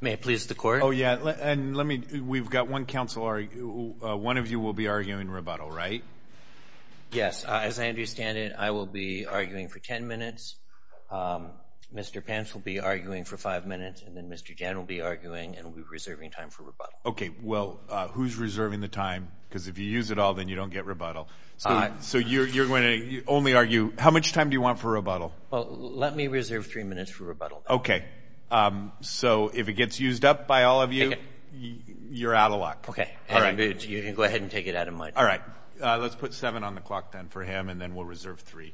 May I please the court? Oh yeah, and let me, we've got one counsel, one of you will be arguing rebuttal, right? Yes, as I understand it, I will be arguing for ten minutes, Mr. Pence will be arguing for five minutes, and then Mr. Jan will be arguing and we'll be reserving time for rebuttal. Okay, well, who's reserving the time? Because if you use it all, then you don't get rebuttal. So you're going to only argue, how much time do you want for rebuttal? Let me reserve three minutes for rebuttal. Okay, so if it gets used up by all of you, you're out of luck. Okay, you can go ahead and take it out of my time. All right, let's put seven on the clock then for him, and then we'll reserve three.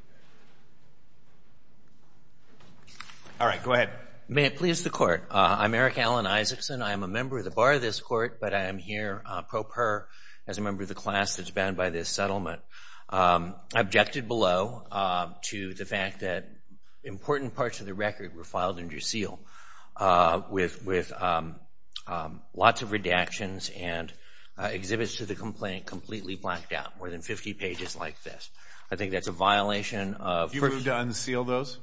All right, go ahead. May it please the court? I'm Eric Alan Isaacson. I am a member of the bar of this court, but I am here pro per, as a member of the class that's bound by this settlement. I objected below to the fact that important parts of the record were filed under seal with lots of redactions and exhibits to the complaint completely blacked out, more than 50 pages like this. I think that's a violation of- Did you move to unseal those?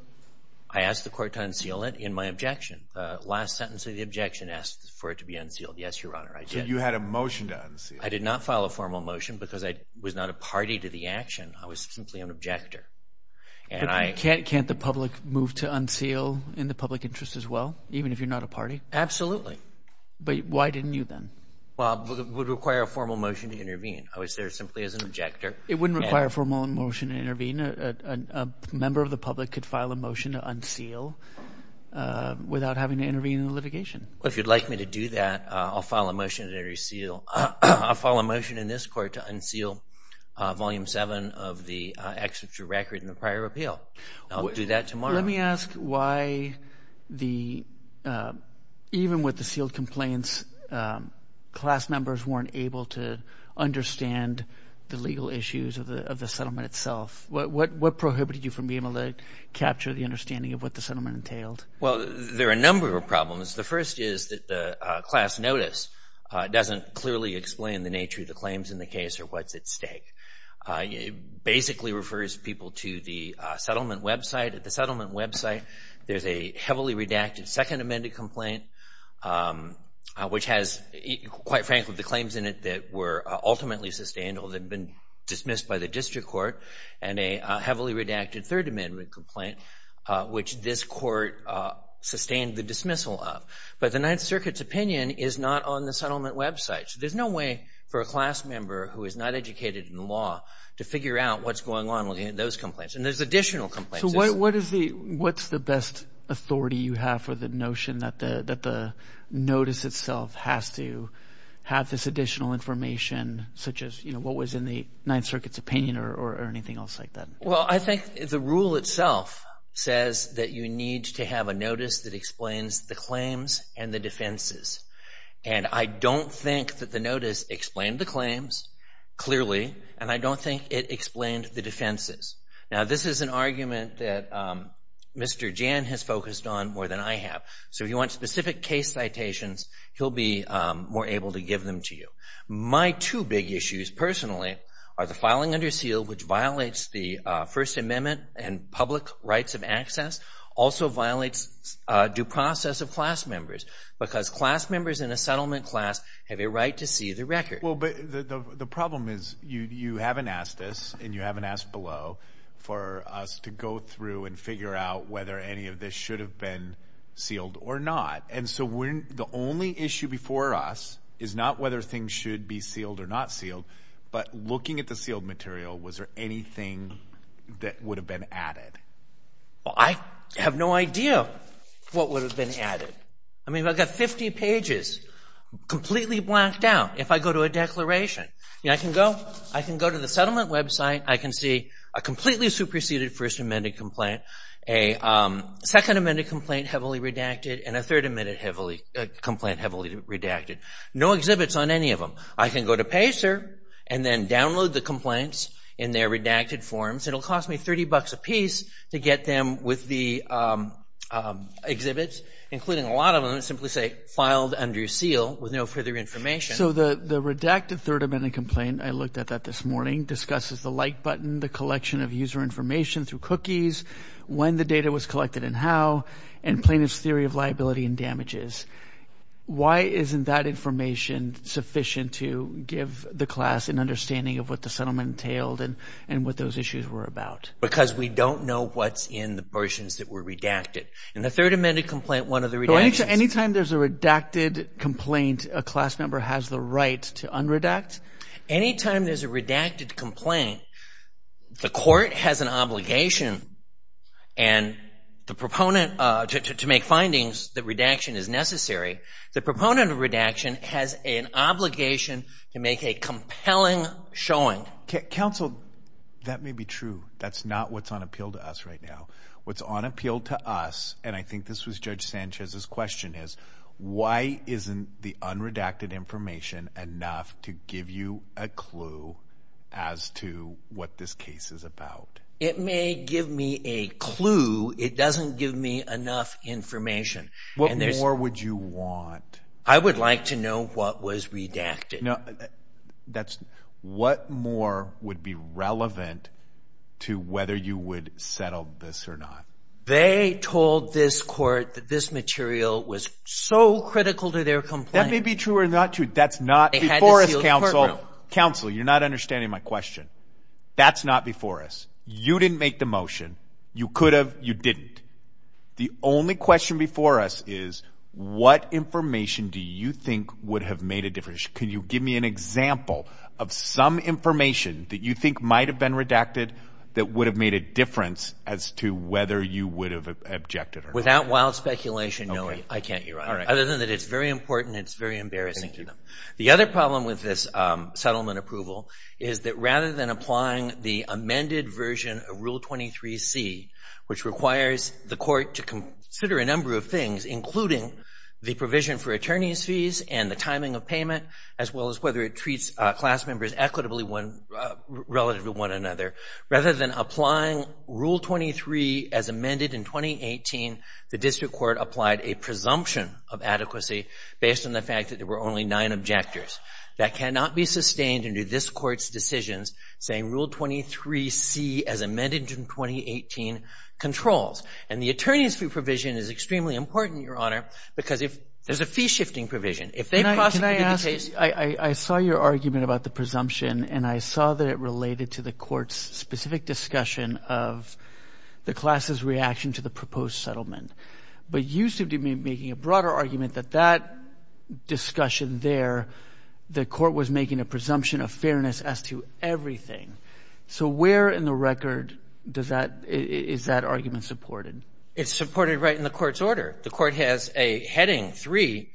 I asked the court to unseal it in my objection. The last sentence of the objection asked for it to be unsealed. So you had a motion to unseal it? I did not file a formal motion because I was not a party to the action. I was simply an objector. Can't the public move to unseal in the public interest as well, even if you're not a party? Absolutely. But why didn't you then? Well, it would require a formal motion to intervene. I was there simply as an objector. It wouldn't require a formal motion to intervene. A member of the public could file a motion to unseal without having to intervene in the litigation. Well, if you'd like me to do that, I'll file a motion to unseal Volume 7 of the exerture record in the prior appeal. I'll do that tomorrow. Let me ask why even with the sealed complaints, class members weren't able to understand the legal issues of the settlement itself. What prohibited you from being able to capture the understanding of what the settlement entailed? Well, there are a number of problems. The first is that the class notice doesn't clearly explain the nature of the claims in the case or what's at stake. It basically refers people to the settlement website. At the settlement website, there's a heavily redacted Second Amendment complaint, which has, quite frankly, the claims in it that were ultimately sustained or that had been dismissed by the district court, and a heavily redacted Third Amendment complaint, which this court sustained the dismissal of. But the Ninth Circuit's opinion is not on the settlement website. So there's no way for a class member who is not educated in law to figure out what's going on with those complaints. And there's additional complaints. So what's the best authority you have for the notion that the notice itself has to have this additional information, such as what was in the Ninth Circuit's opinion or anything else like that? Well, I think the rule itself says that you need to have a notice that explains the claims and the defenses. And I don't think that the notice explained the claims clearly, and I don't think it explained the defenses. Now, this is an argument that Mr. Jan has focused on more than I have. So if you want specific case citations, he'll be more able to give them to you. My two big issues personally are the filing under seal, which violates the First Amendment and public rights of access, also violates due process of class members, because class members in a settlement class have a right to see the record. Well, but the problem is you haven't asked us and you haven't asked below for us to go through and figure out whether any of this should have been sealed or not. And so the only issue before us is not whether things should be sealed or not sealed, but looking at the sealed material, was there anything that would have been added? Well, I have no idea what would have been added. I mean, I've got 50 pages completely blacked out. If I go to a declaration, I can go to the settlement website, I can see a completely superseded First Amendment complaint, a Second Amendment complaint heavily redacted, and a Third Amendment complaint heavily redacted. No exhibits on any of them. I can go to PACER and then download the complaints in their redacted forms. It'll cost me $30 apiece to get them with the exhibits, including a lot of them that simply say filed under seal with no further information. So the redacted Third Amendment complaint, I looked at that this morning, discusses the like button, the collection of user information through cookies, when the data was collected and how, and plaintiff's theory of liability and damages. Why isn't that information sufficient to give the class an understanding of what the settlement entailed and what those issues were about? Because we don't know what's in the portions that were redacted. In the Third Amendment complaint, one of the redactions— So any time there's a redacted complaint, a class member has the right to unredact? Any time there's a redacted complaint, the court has an obligation to make findings that redaction is necessary. The proponent of redaction has an obligation to make a compelling showing. Counsel, that may be true. That's not what's on appeal to us right now. What's on appeal to us, and I think this was Judge Sanchez's question, is why isn't the unredacted information enough to give you a clue as to what this case is about? It may give me a clue. It doesn't give me enough information. What more would you want? I would like to know what was redacted. What more would be relevant to whether you would settle this or not? They told this court that this material was so critical to their complaint. That may be true or not true. That's not before us, Counsel. Counsel, you're not understanding my question. That's not before us. You didn't make the motion. You could have. You didn't. The only question before us is what information do you think would have made a difference? Can you give me an example of some information that you think might have been redacted that would have made a difference as to whether you would have objected or not? Without wild speculation, no, I can't, Your Honor. Other than that, it's very important and it's very embarrassing. The other problem with this settlement approval is that rather than applying the amended version of Rule 23c, which requires the court to consider a number of things, including the provision for attorney's fees and the timing of payment, as well as whether it treats class members equitably relative to one another, rather than applying Rule 23 as amended in 2018, the district court applied a presumption of adequacy based on the fact that there were only nine objectors. That cannot be sustained under this Court's decisions, saying Rule 23c as amended in 2018 controls. And the attorney's fee provision is extremely important, Your Honor, because there's a fee-shifting provision. Can I ask, I saw your argument about the presumption, and I saw that it related to the court's specific discussion of the class's reaction to the proposed settlement. But you seem to be making a broader argument that that discussion there, the court was making a presumption of fairness as to everything. So where in the record is that argument supported? It's supported right in the court's order. The court has a heading three,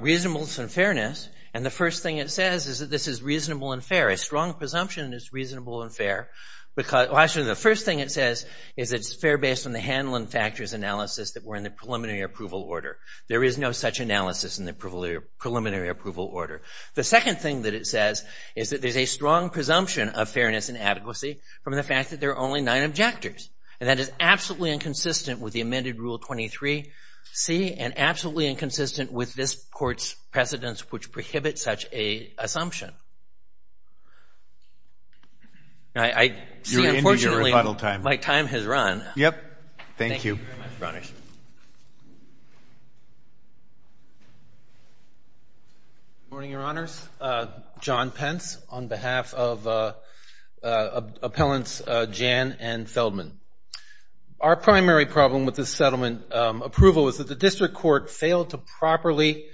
reasonableness and fairness. And the first thing it says is that this is reasonable and fair. A strong presumption is reasonable and fair. Actually, the first thing it says is it's fair based on the handling factors analysis that were in the preliminary approval order. There is no such analysis in the preliminary approval order. The second thing that it says is that there's a strong presumption of fairness and adequacy from the fact that there are only nine objectors. And that is absolutely inconsistent with the amended Rule 23C and absolutely inconsistent with this court's precedents which prohibit such an assumption. I see, unfortunately, my time has run. Thank you. Thank you very much, Your Honors. Good morning, Your Honors. John Pence on behalf of Appellants Jan and Feldman. Our primary problem with this settlement approval is that the district court failed to properly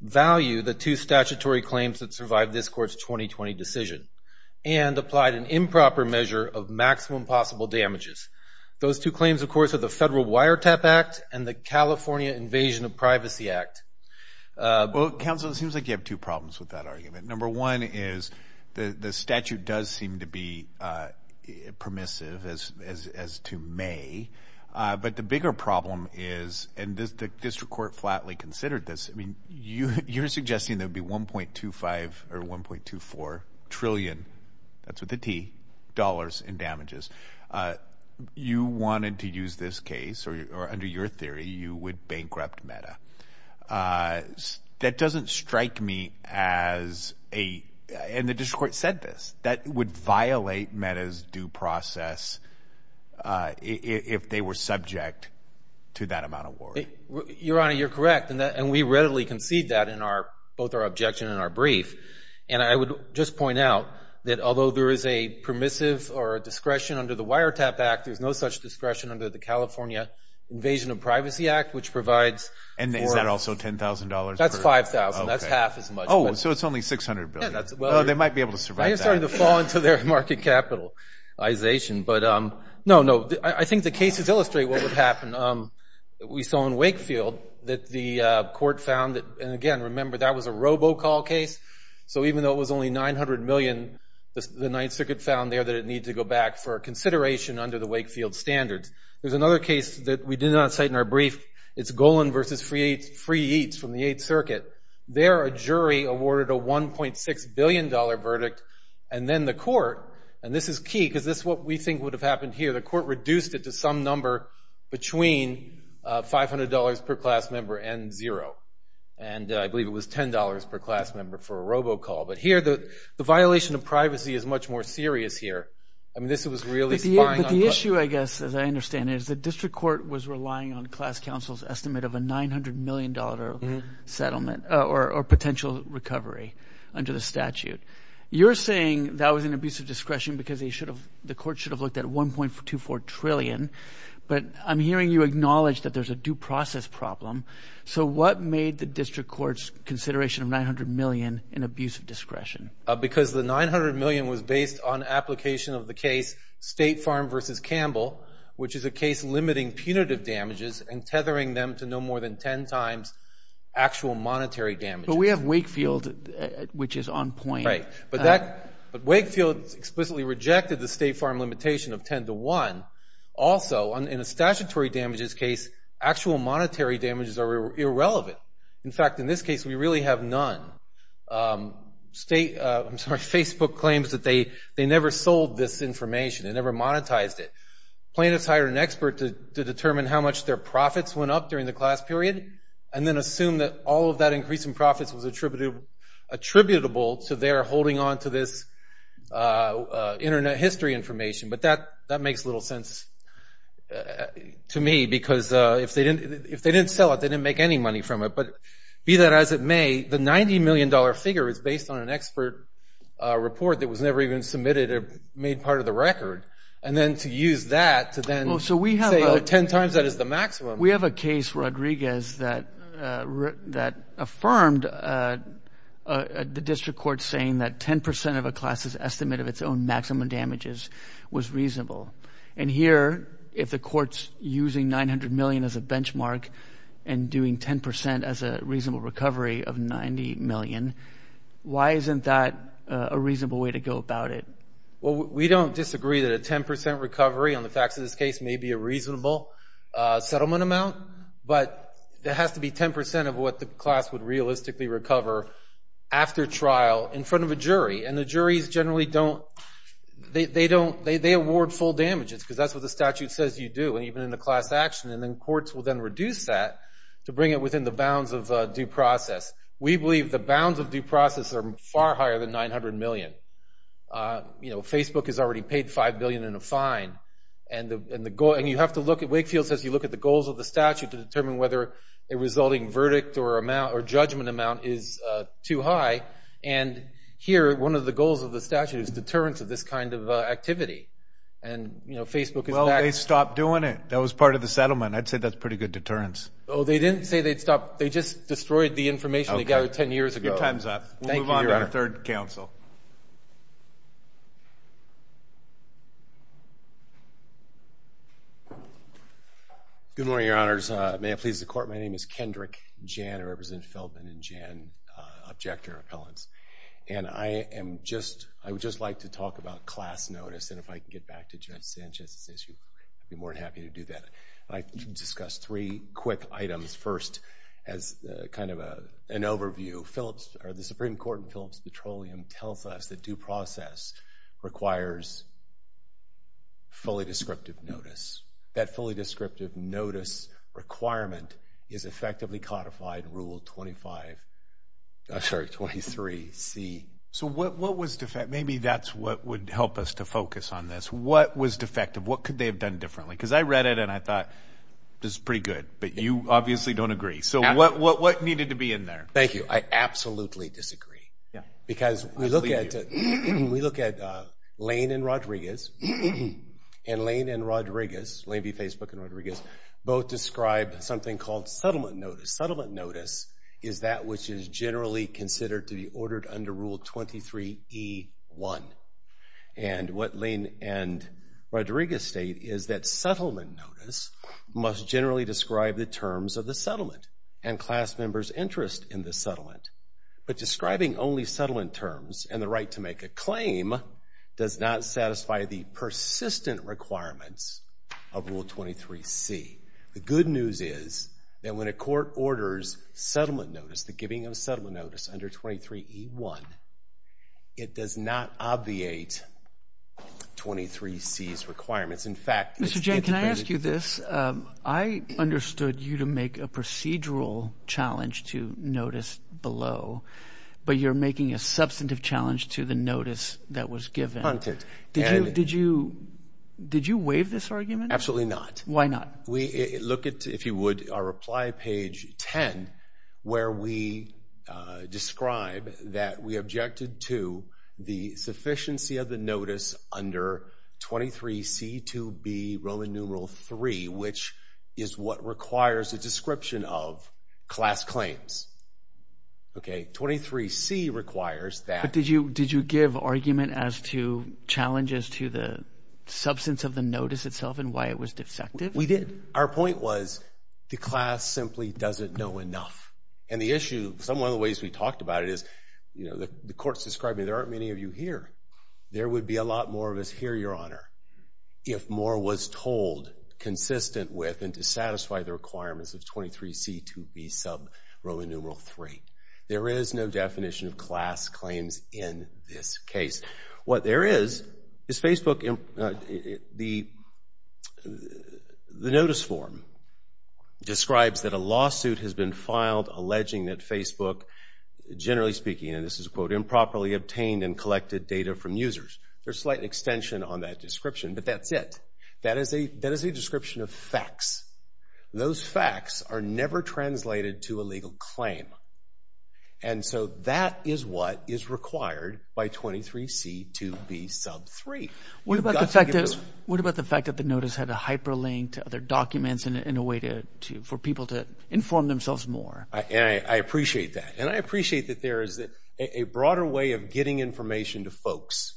value the two statutory claims that survived this court's 2020 decision and applied an improper measure of maximum possible damages. Those two claims, of course, are the Federal Wiretap Act and the California Invasion of Privacy Act. Well, counsel, it seems like you have two problems with that argument. Number one is the statute does seem to be permissive as to may. But the bigger problem is, and the district court flatly considered this, I mean, you're suggesting there would be $1.25 or $1.24 trillion, that's with a T, dollars in damages. You wanted to use this case, or under your theory, you would bankrupt META. That doesn't strike me as a, and the district court said this, that would violate META's due process if they were subject to that amount of war. Your Honor, you're correct, and we readily concede that in both our objection and our brief. And I would just point out that although there is a permissive or a discretion under the Wiretap Act, there's no such discretion under the California Invasion of Privacy Act, which provides for- And is that also $10,000 per- That's $5,000. That's half as much. Oh, so it's only $600 billion. Yeah, that's- Well, they might be able to survive that. I am sorry to fall into their market capitalization, but no, no. I think the cases illustrate what would happen. We saw in Wakefield that the court found that, and again, remember, that was a robocall case, so even though it was only $900 million, the Ninth Circuit found there that it needed to go back for consideration under the Wakefield standards. There's another case that we did not cite in our brief. It's Golan v. Free Eats from the Eighth Circuit. There, a jury awarded a $1.6 billion verdict, and then the court, and this is key, because this is what we think would have happened here. The court reduced it to some number between $500 per class member and zero, and I believe it was $10 per class member for a robocall. But here, the violation of privacy is much more serious here. I mean, this was really spying on- But the issue, I guess, as I understand it, is the district court was relying on class counsel's estimate of a $900 million settlement or potential recovery under the statute. You're saying that was an abuse of discretion because the court should have looked at $1.24 trillion, but I'm hearing you acknowledge that there's a due process problem. So what made the district court's consideration of $900 million an abuse of discretion? Because the $900 million was based on application of the case State Farm v. Campbell, which is a case limiting punitive damages and tethering them to no more than 10 times actual monetary damage. But we have Wakefield, which is on point. But Wakefield explicitly rejected the State Farm limitation of 10 to 1. Also, in a statutory damages case, actual monetary damages are irrelevant. In fact, in this case, we really have none. Facebook claims that they never sold this information. They never monetized it. Plaintiffs hired an expert to determine how much their profits went up during the class period and then assume that all of that increase in profits was attributable to their holding on to this Internet history information. But that makes little sense to me because if they didn't sell it, they didn't make any money from it. But be that as it may, the $90 million figure is based on an expert report that was never even submitted or made part of the record. And then to use that to then say 10 times that is the maximum. We have a case, Rodriguez, that affirmed the district court saying that 10 percent of a class's estimate of its own maximum damages was reasonable. And here, if the court's using $900 million as a benchmark and doing 10 percent as a reasonable recovery of $90 million, why isn't that a reasonable way to go about it? Well, we don't disagree that a 10 percent recovery on the facts of this case may be a reasonable settlement amount. But there has to be 10 percent of what the class would realistically recover after trial in front of a jury. And the juries generally don't – they award full damages because that's what the statute says you do, and even in the class action. And then courts will then reduce that to bring it within the bounds of due process. We believe the bounds of due process are far higher than $900 million. You know, Facebook has already paid $5 billion in a fine. And the goal – and you have to look at – Wakefield says you look at the goals of the statute to determine whether a resulting verdict or amount – or judgment amount is too high. And here, one of the goals of the statute is deterrence of this kind of activity. And, you know, Facebook is – Well, they stopped doing it. That was part of the settlement. I'd say that's pretty good deterrence. Oh, they didn't say they'd stop. They just destroyed the information they gathered 10 years ago. Your time's up. Thank you, Your Honor. We'll move on to our third counsel. Good morning, Your Honors. May it please the Court, my name is Kendrick Jan, I represent Feldman and Jan Objector Appellants. And I am just – I would just like to talk about class notice. And if I can get back to Judge Sanchez's issue, I'd be more than happy to do that. I'd like to discuss three quick items first as kind of an overview. Phillips – or the Supreme Court in Phillips Petroleum tells us that due process requires fully descriptive notice. That fully descriptive notice requirement is effectively codified Rule 25 – I'm sorry, 23C. So what was – maybe that's what would help us to focus on this. What was defective? What could they have done differently? Because I read it and I thought, this is pretty good. But you obviously don't agree. So what needed to be in there? Thank you. I absolutely disagree. Because we look at Lane and Rodriguez, and Lane and Rodriguez, Lane v. Facebook and Rodriguez, both describe something called settlement notice. Settlement notice is that which is generally considered to be ordered under Rule 23E1. And what Lane and Rodriguez state is that settlement notice must generally describe the terms of the settlement and class members' interest in the settlement. But describing only settlement terms and the right to make a claim does not satisfy the persistent requirements of Rule 23C. The good news is that when a court orders settlement notice, the giving of a settlement notice under 23E1, it does not obviate 23C's requirements. In fact, it's anticipated. Mr. Jay, can I ask you this? I understood you to make a procedural challenge to notice below, but you're making a substantive challenge to the notice that was given. Did you waive this argument? Absolutely not. Why not? We look at, if you would, our reply page 10, where we describe that we objected to the sufficiency of the notice under 23C2B, Roman numeral III, which is what requires a description of class claims. Okay, 23C requires that. But did you give argument as to challenges to the substance of the notice itself and why it was defective? We did. Our point was the class simply doesn't know enough. And the issue, some of the ways we talked about it is, you know, the court's describing there aren't many of you here. There would be a lot more of us here, Your Honor, if more was told consistent with and to satisfy the requirements of 23C2B sub Roman numeral III. There is no definition of class claims in this case. What there is, is Facebook, the notice form, describes that a lawsuit has been filed alleging that Facebook, generally speaking, and this is a quote, improperly obtained and collected data from users. There's a slight extension on that description, but that's it. That is a description of facts. Those facts are never translated to a legal claim. And so that is what is required by 23C2B sub III. What about the fact that the notice had to hyperlink to other documents in a way for people to inform themselves more? I appreciate that. And I appreciate that there is a broader way of getting information to folks.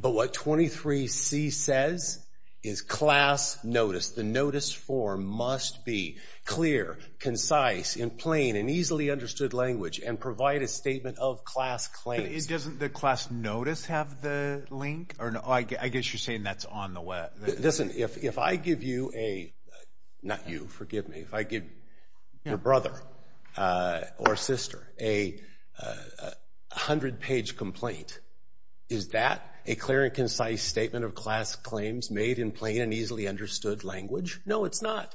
But what 23C says is class notice. The notice form must be clear, concise, in plain and easily understood language and provide a statement of class claims. Doesn't the class notice have the link? I guess you're saying that's on the web. Listen, if I give you a, not you, forgive me, if I give your brother or sister a 100-page complaint, is that a clear and concise statement of class claims made in plain and easily understood language? No, it's not.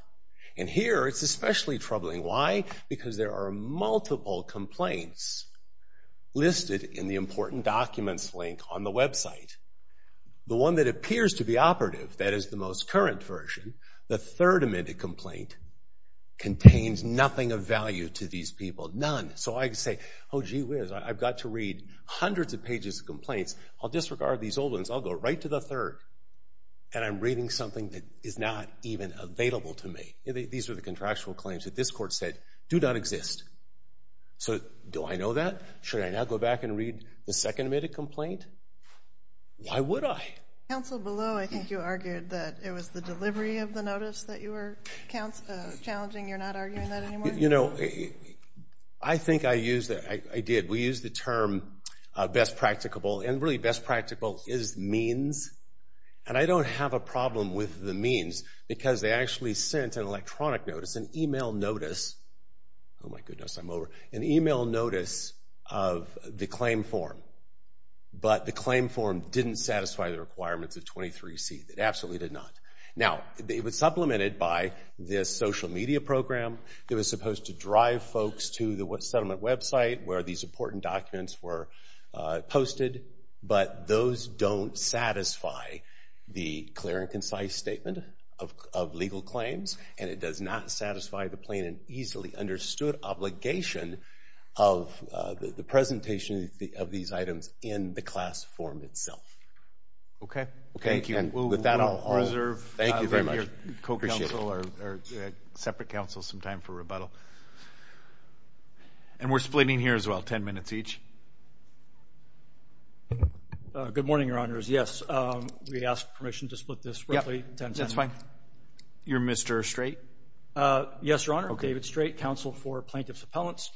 And here it's especially troubling. Why? Because there are multiple complaints listed in the important documents link on the website. The one that appears to be operative, that is the most current version, the third amended complaint, contains nothing of value to these people. None. So I say, oh, gee whiz, I've got to read hundreds of pages of complaints. I'll disregard these old ones, I'll go right to the third, and I'm reading something that is not even available to me. These are the contractual claims that this court said do not exist. So do I know that? Should I now go back and read the second amended complaint? Why would I? Counsel, below, I think you argued that it was the delivery of the notice that you were challenging. You're not arguing that anymore? I think I did. We use the term best practicable, and really best practicable is means. And I don't have a problem with the means because they actually sent an electronic notice, an email notice. Oh, my goodness, I'm over. An email notice of the claim form, but the claim form didn't satisfy the requirements of 23C. It absolutely did not. Now, it was supplemented by this social media program that was supposed to drive folks to the settlement website where these important documents were posted, but those don't satisfy the clear and concise statement of legal claims, and it does not satisfy the plain and easily understood obligation of the presentation of these items in the class form itself. Okay. Thank you. And with that, I'll reserve your co-counsel or separate counsel some time for rebuttal. And we're splitting here as well, 10 minutes each. Good morning, Your Honors. Yes, we ask permission to split this roughly 10 seconds. That's fine. You're Mr. Strait? Yes, Your Honor. David Strait, counsel for Plaintiff's Appellants.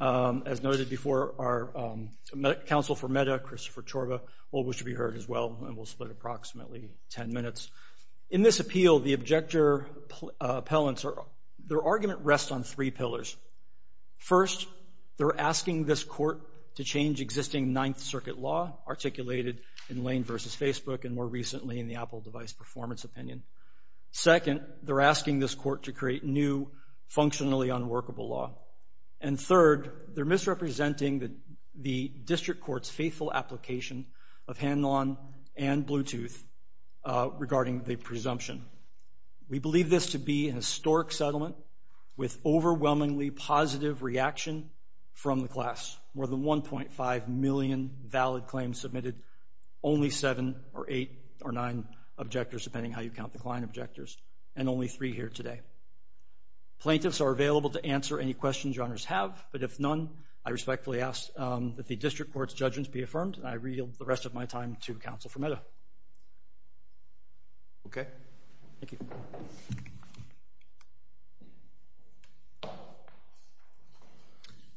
As noted before, our counsel for MEDA, Christopher Chorba, always should be heard as well, and we'll split approximately 10 minutes. In this appeal, the objector appellants, their argument rests on three pillars. First, they're asking this court to change existing Ninth Circuit law articulated in Lane v. Facebook and more recently in the Apple device performance opinion. Second, they're asking this court to create new, functionally unworkable law. And third, they're misrepresenting the district court's faithful application of hand-on and Bluetooth regarding the presumption. We believe this to be a historic settlement with overwhelmingly positive reaction from the class. More than 1.5 million valid claims submitted, only seven or eight or nine objectors, depending on how you count the client objectors, and only three here today. Plaintiffs are available to answer any questions your honors have, but if none, I respectfully ask that the district court's judgment be affirmed, and I yield the rest of my time to counsel for MEDA. Okay. Thank you.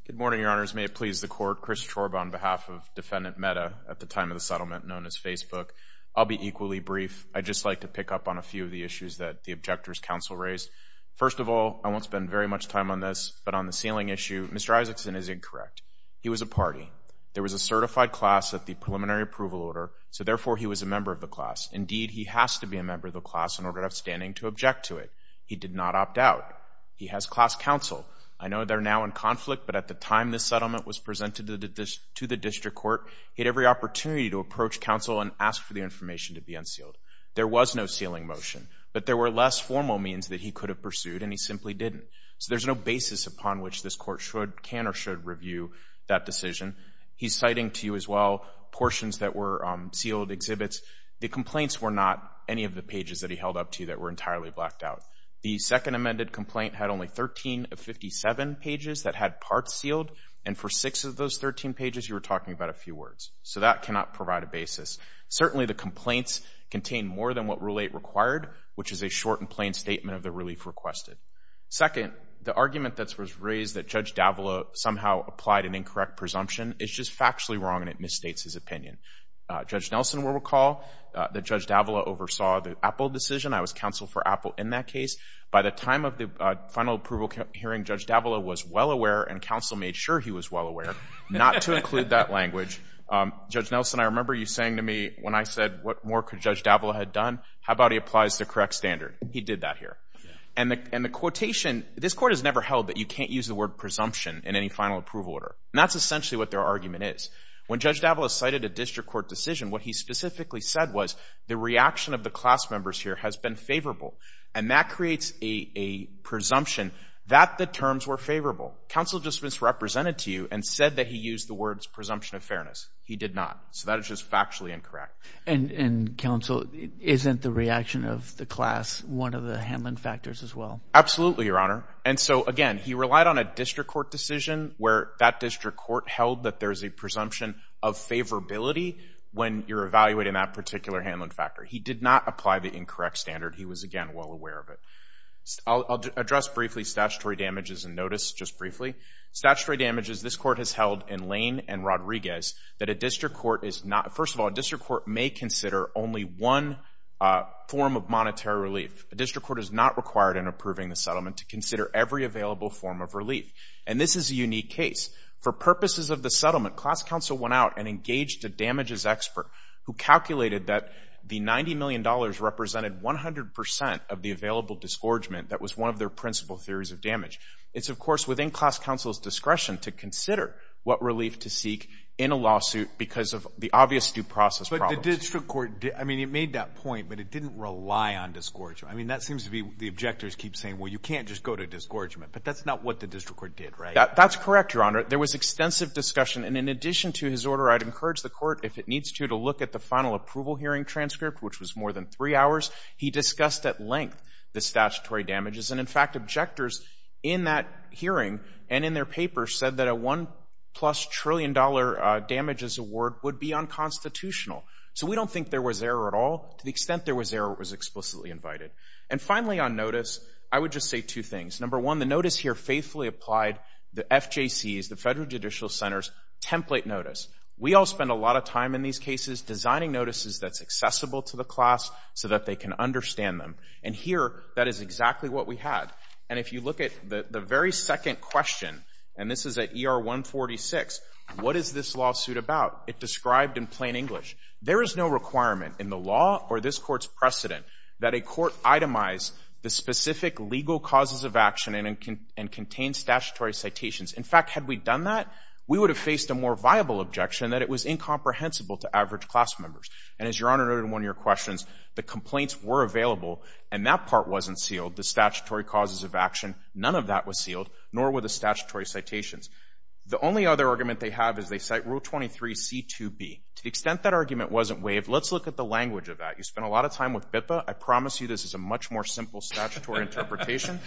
Good morning, your honors. May it please the court, Chris Chorba on behalf of defendant MEDA at the time of the settlement known as Facebook. I'll be equally brief. I'd just like to pick up on a few of the issues that the objector's counsel raised. First of all, I won't spend very much time on this, but on the sealing issue, Mr. Isaacson is incorrect. He was a party. There was a certified class at the preliminary approval order, so therefore he was a member of the class. Indeed, he has to be a member of the class in order to have standing to object to it. He did not opt out. He has class counsel. I know they're now in conflict, but at the time this settlement was presented to the district court, he had every opportunity to approach counsel and ask for the information to be unsealed. There was no sealing motion, but there were less formal means that he could have pursued, and he simply didn't. So there's no basis upon which this court should, can, or should review that decision. He's citing to you as well portions that were sealed exhibits. The complaints were not any of the pages that he held up to you that were entirely blacked out. The second amended complaint had only 13 of 57 pages that had parts sealed, and for six of those 13 pages you were talking about a few words. So that cannot provide a basis. Certainly the complaints contain more than what Rule 8 required, which is a short and plain statement of the relief requested. Second, the argument that was raised that Judge Davila somehow applied an incorrect presumption is just factually wrong, and it misstates his opinion. Judge Nelson will recall that Judge Davila oversaw the Apple decision. I was counsel for Apple in that case. By the time of the final approval hearing, Judge Davila was well aware and counsel made sure he was well aware not to include that language. Judge Nelson, I remember you saying to me when I said, what more could Judge Davila have done? How about he applies the correct standard? He did that here. And the quotation, this court has never held that you can't use the word presumption in any final approval order, and that's essentially what their argument is. When Judge Davila cited a district court decision, what he specifically said was the reaction of the class members here has been favorable, and that creates a presumption that the terms were favorable. Counsel just misrepresented to you and said that he used the words presumption of fairness. He did not. So that is just factually incorrect. And counsel, isn't the reaction of the class one of the handling factors as well? Absolutely, Your Honor. And so, again, he relied on a district court decision where that district court held that there's a presumption of favorability when you're evaluating that particular handling factor. He did not apply the incorrect standard. He was, again, well aware of it. I'll address briefly statutory damages and notice just briefly. Statutory damages, this court has held in Lane and Rodriguez that a district court is not, first of all, a district court may consider only one form of monetary relief. A district court is not required in approving the settlement to consider every available form of relief. And this is a unique case. For purposes of the settlement, class counsel went out and engaged a damages expert who calculated that the $90 million represented 100% of the available disgorgement that was one of their principal theories of damage. It's, of course, within class counsel's discretion to consider what relief to seek in a lawsuit because of the obvious due process problems. But the district court, I mean, it made that point, but it didn't rely on disgorgement. I mean, that seems to be the objectors keep saying, well, you can't just go to disgorgement. But that's not what the district court did, right? That's correct, Your Honor. There was extensive discussion. And in addition to his order, I'd encourage the court, if it needs to, to look at the final approval hearing transcript, which was more than three hours. He discussed at length the statutory damages. And, in fact, objectors in that hearing and in their paper said that a $1 trillion plus damages award would be unconstitutional. So we don't think there was error at all to the extent there was error that was explicitly invited. And finally, on notice, I would just say two things. Number one, the notice here faithfully applied the FJC's, the Federal Judicial Center's template notice. We all spend a lot of time in these cases designing notices that's accessible to the class so that they can understand them. And here, that is exactly what we had. And if you look at the very second question, and this is at ER 146, what is this lawsuit about? It described in plain English. There is no requirement in the law or this court's precedent that a court itemize the specific legal causes of action and contain statutory citations. In fact, had we done that, we would have faced a more viable objection that it was incomprehensible to average class members. And, as Your Honor noted in one of your questions, the complaints were available, and that part wasn't sealed, the statutory causes of action. None of that was sealed, nor were the statutory citations. The only other argument they have is they cite Rule 23C2B. To the extent that argument wasn't waived, let's look at the language of that. You spent a lot of time with BIPA. I promise you this is a much more simple statutory interpretation.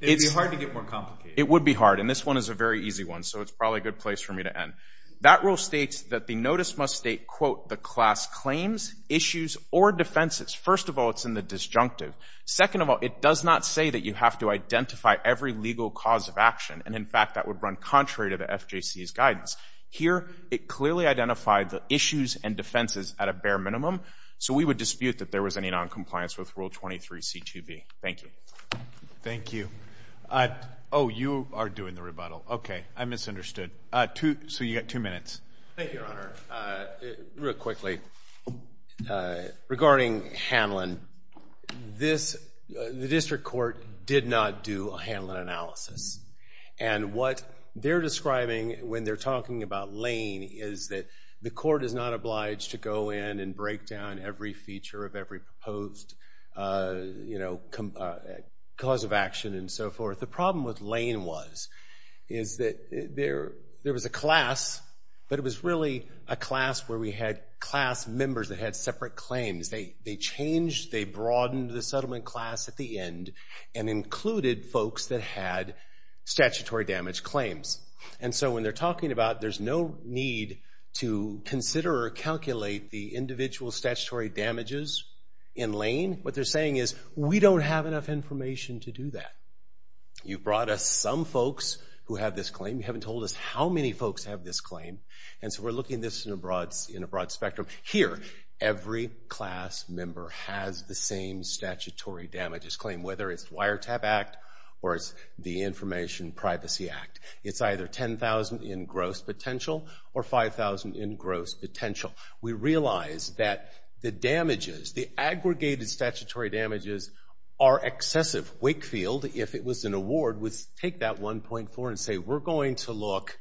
It would be hard to get more complicated. It would be hard, and this one is a very easy one, so it's probably a good place for me to end. That rule states that the notice must state, quote, the class claims, issues, or defenses. First of all, it's in the disjunctive. Second of all, it does not say that you have to identify every legal cause of action. And, in fact, that would run contrary to the FJC's guidance. Here, it clearly identified the issues and defenses at a bare minimum, so we would dispute that there was any noncompliance with Rule 23C2B. Thank you. Thank you. Oh, you are doing the rebuttal. Okay. I misunderstood. So you've got two minutes. Thank you, Your Honor. Real quickly, regarding Hanlon, the district court did not do a Hanlon analysis. And what they're describing when they're talking about Lane is that the court is not obliged to go in and break down every feature of every proposed cause of action and so forth. The problem with Lane was that there was a class, but it was really a class where we had class members that had separate claims. They changed, they broadened the settlement class at the end and included folks that had statutory damage claims. And so when they're talking about there's no need to consider or calculate the individual statutory damages in Lane, what they're saying is we don't have enough information to do that. You brought us some folks who have this claim. You haven't told us how many folks have this claim. And so we're looking at this in a broad spectrum. Here, every class member has the same statutory damages claim, whether it's the Wiretap Act or it's the Information Privacy Act. It's either 10,000 in gross potential or 5,000 in gross potential. We realize that the damages, the aggregated statutory damages, are excessive. Wakefield, if it was an award, would take that 1.4 and say, we're going to look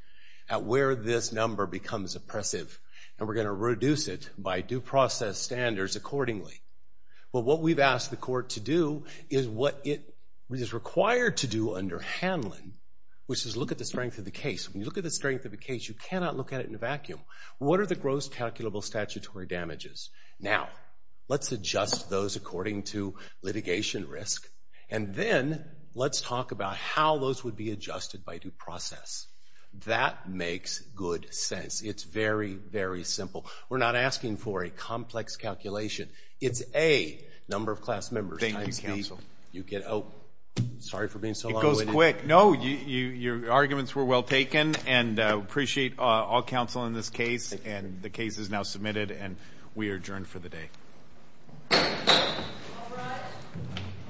at where this number becomes oppressive and we're going to reduce it by due process standards accordingly. But what we've asked the court to do is what it is required to do under Hanlon, which is look at the strength of the case. When you look at the strength of the case, you cannot look at it in a vacuum. What are the gross calculable statutory damages? Now, let's adjust those according to litigation risk, and then let's talk about how those would be adjusted by due process. That makes good sense. It's very, very simple. We're not asking for a complex calculation. It's A, number of class members times B. You get out. Sorry for being so long. It goes quick. No, your arguments were well taken, and appreciate all counsel in this case. And the case is now submitted, and we are adjourned for the day. All rise.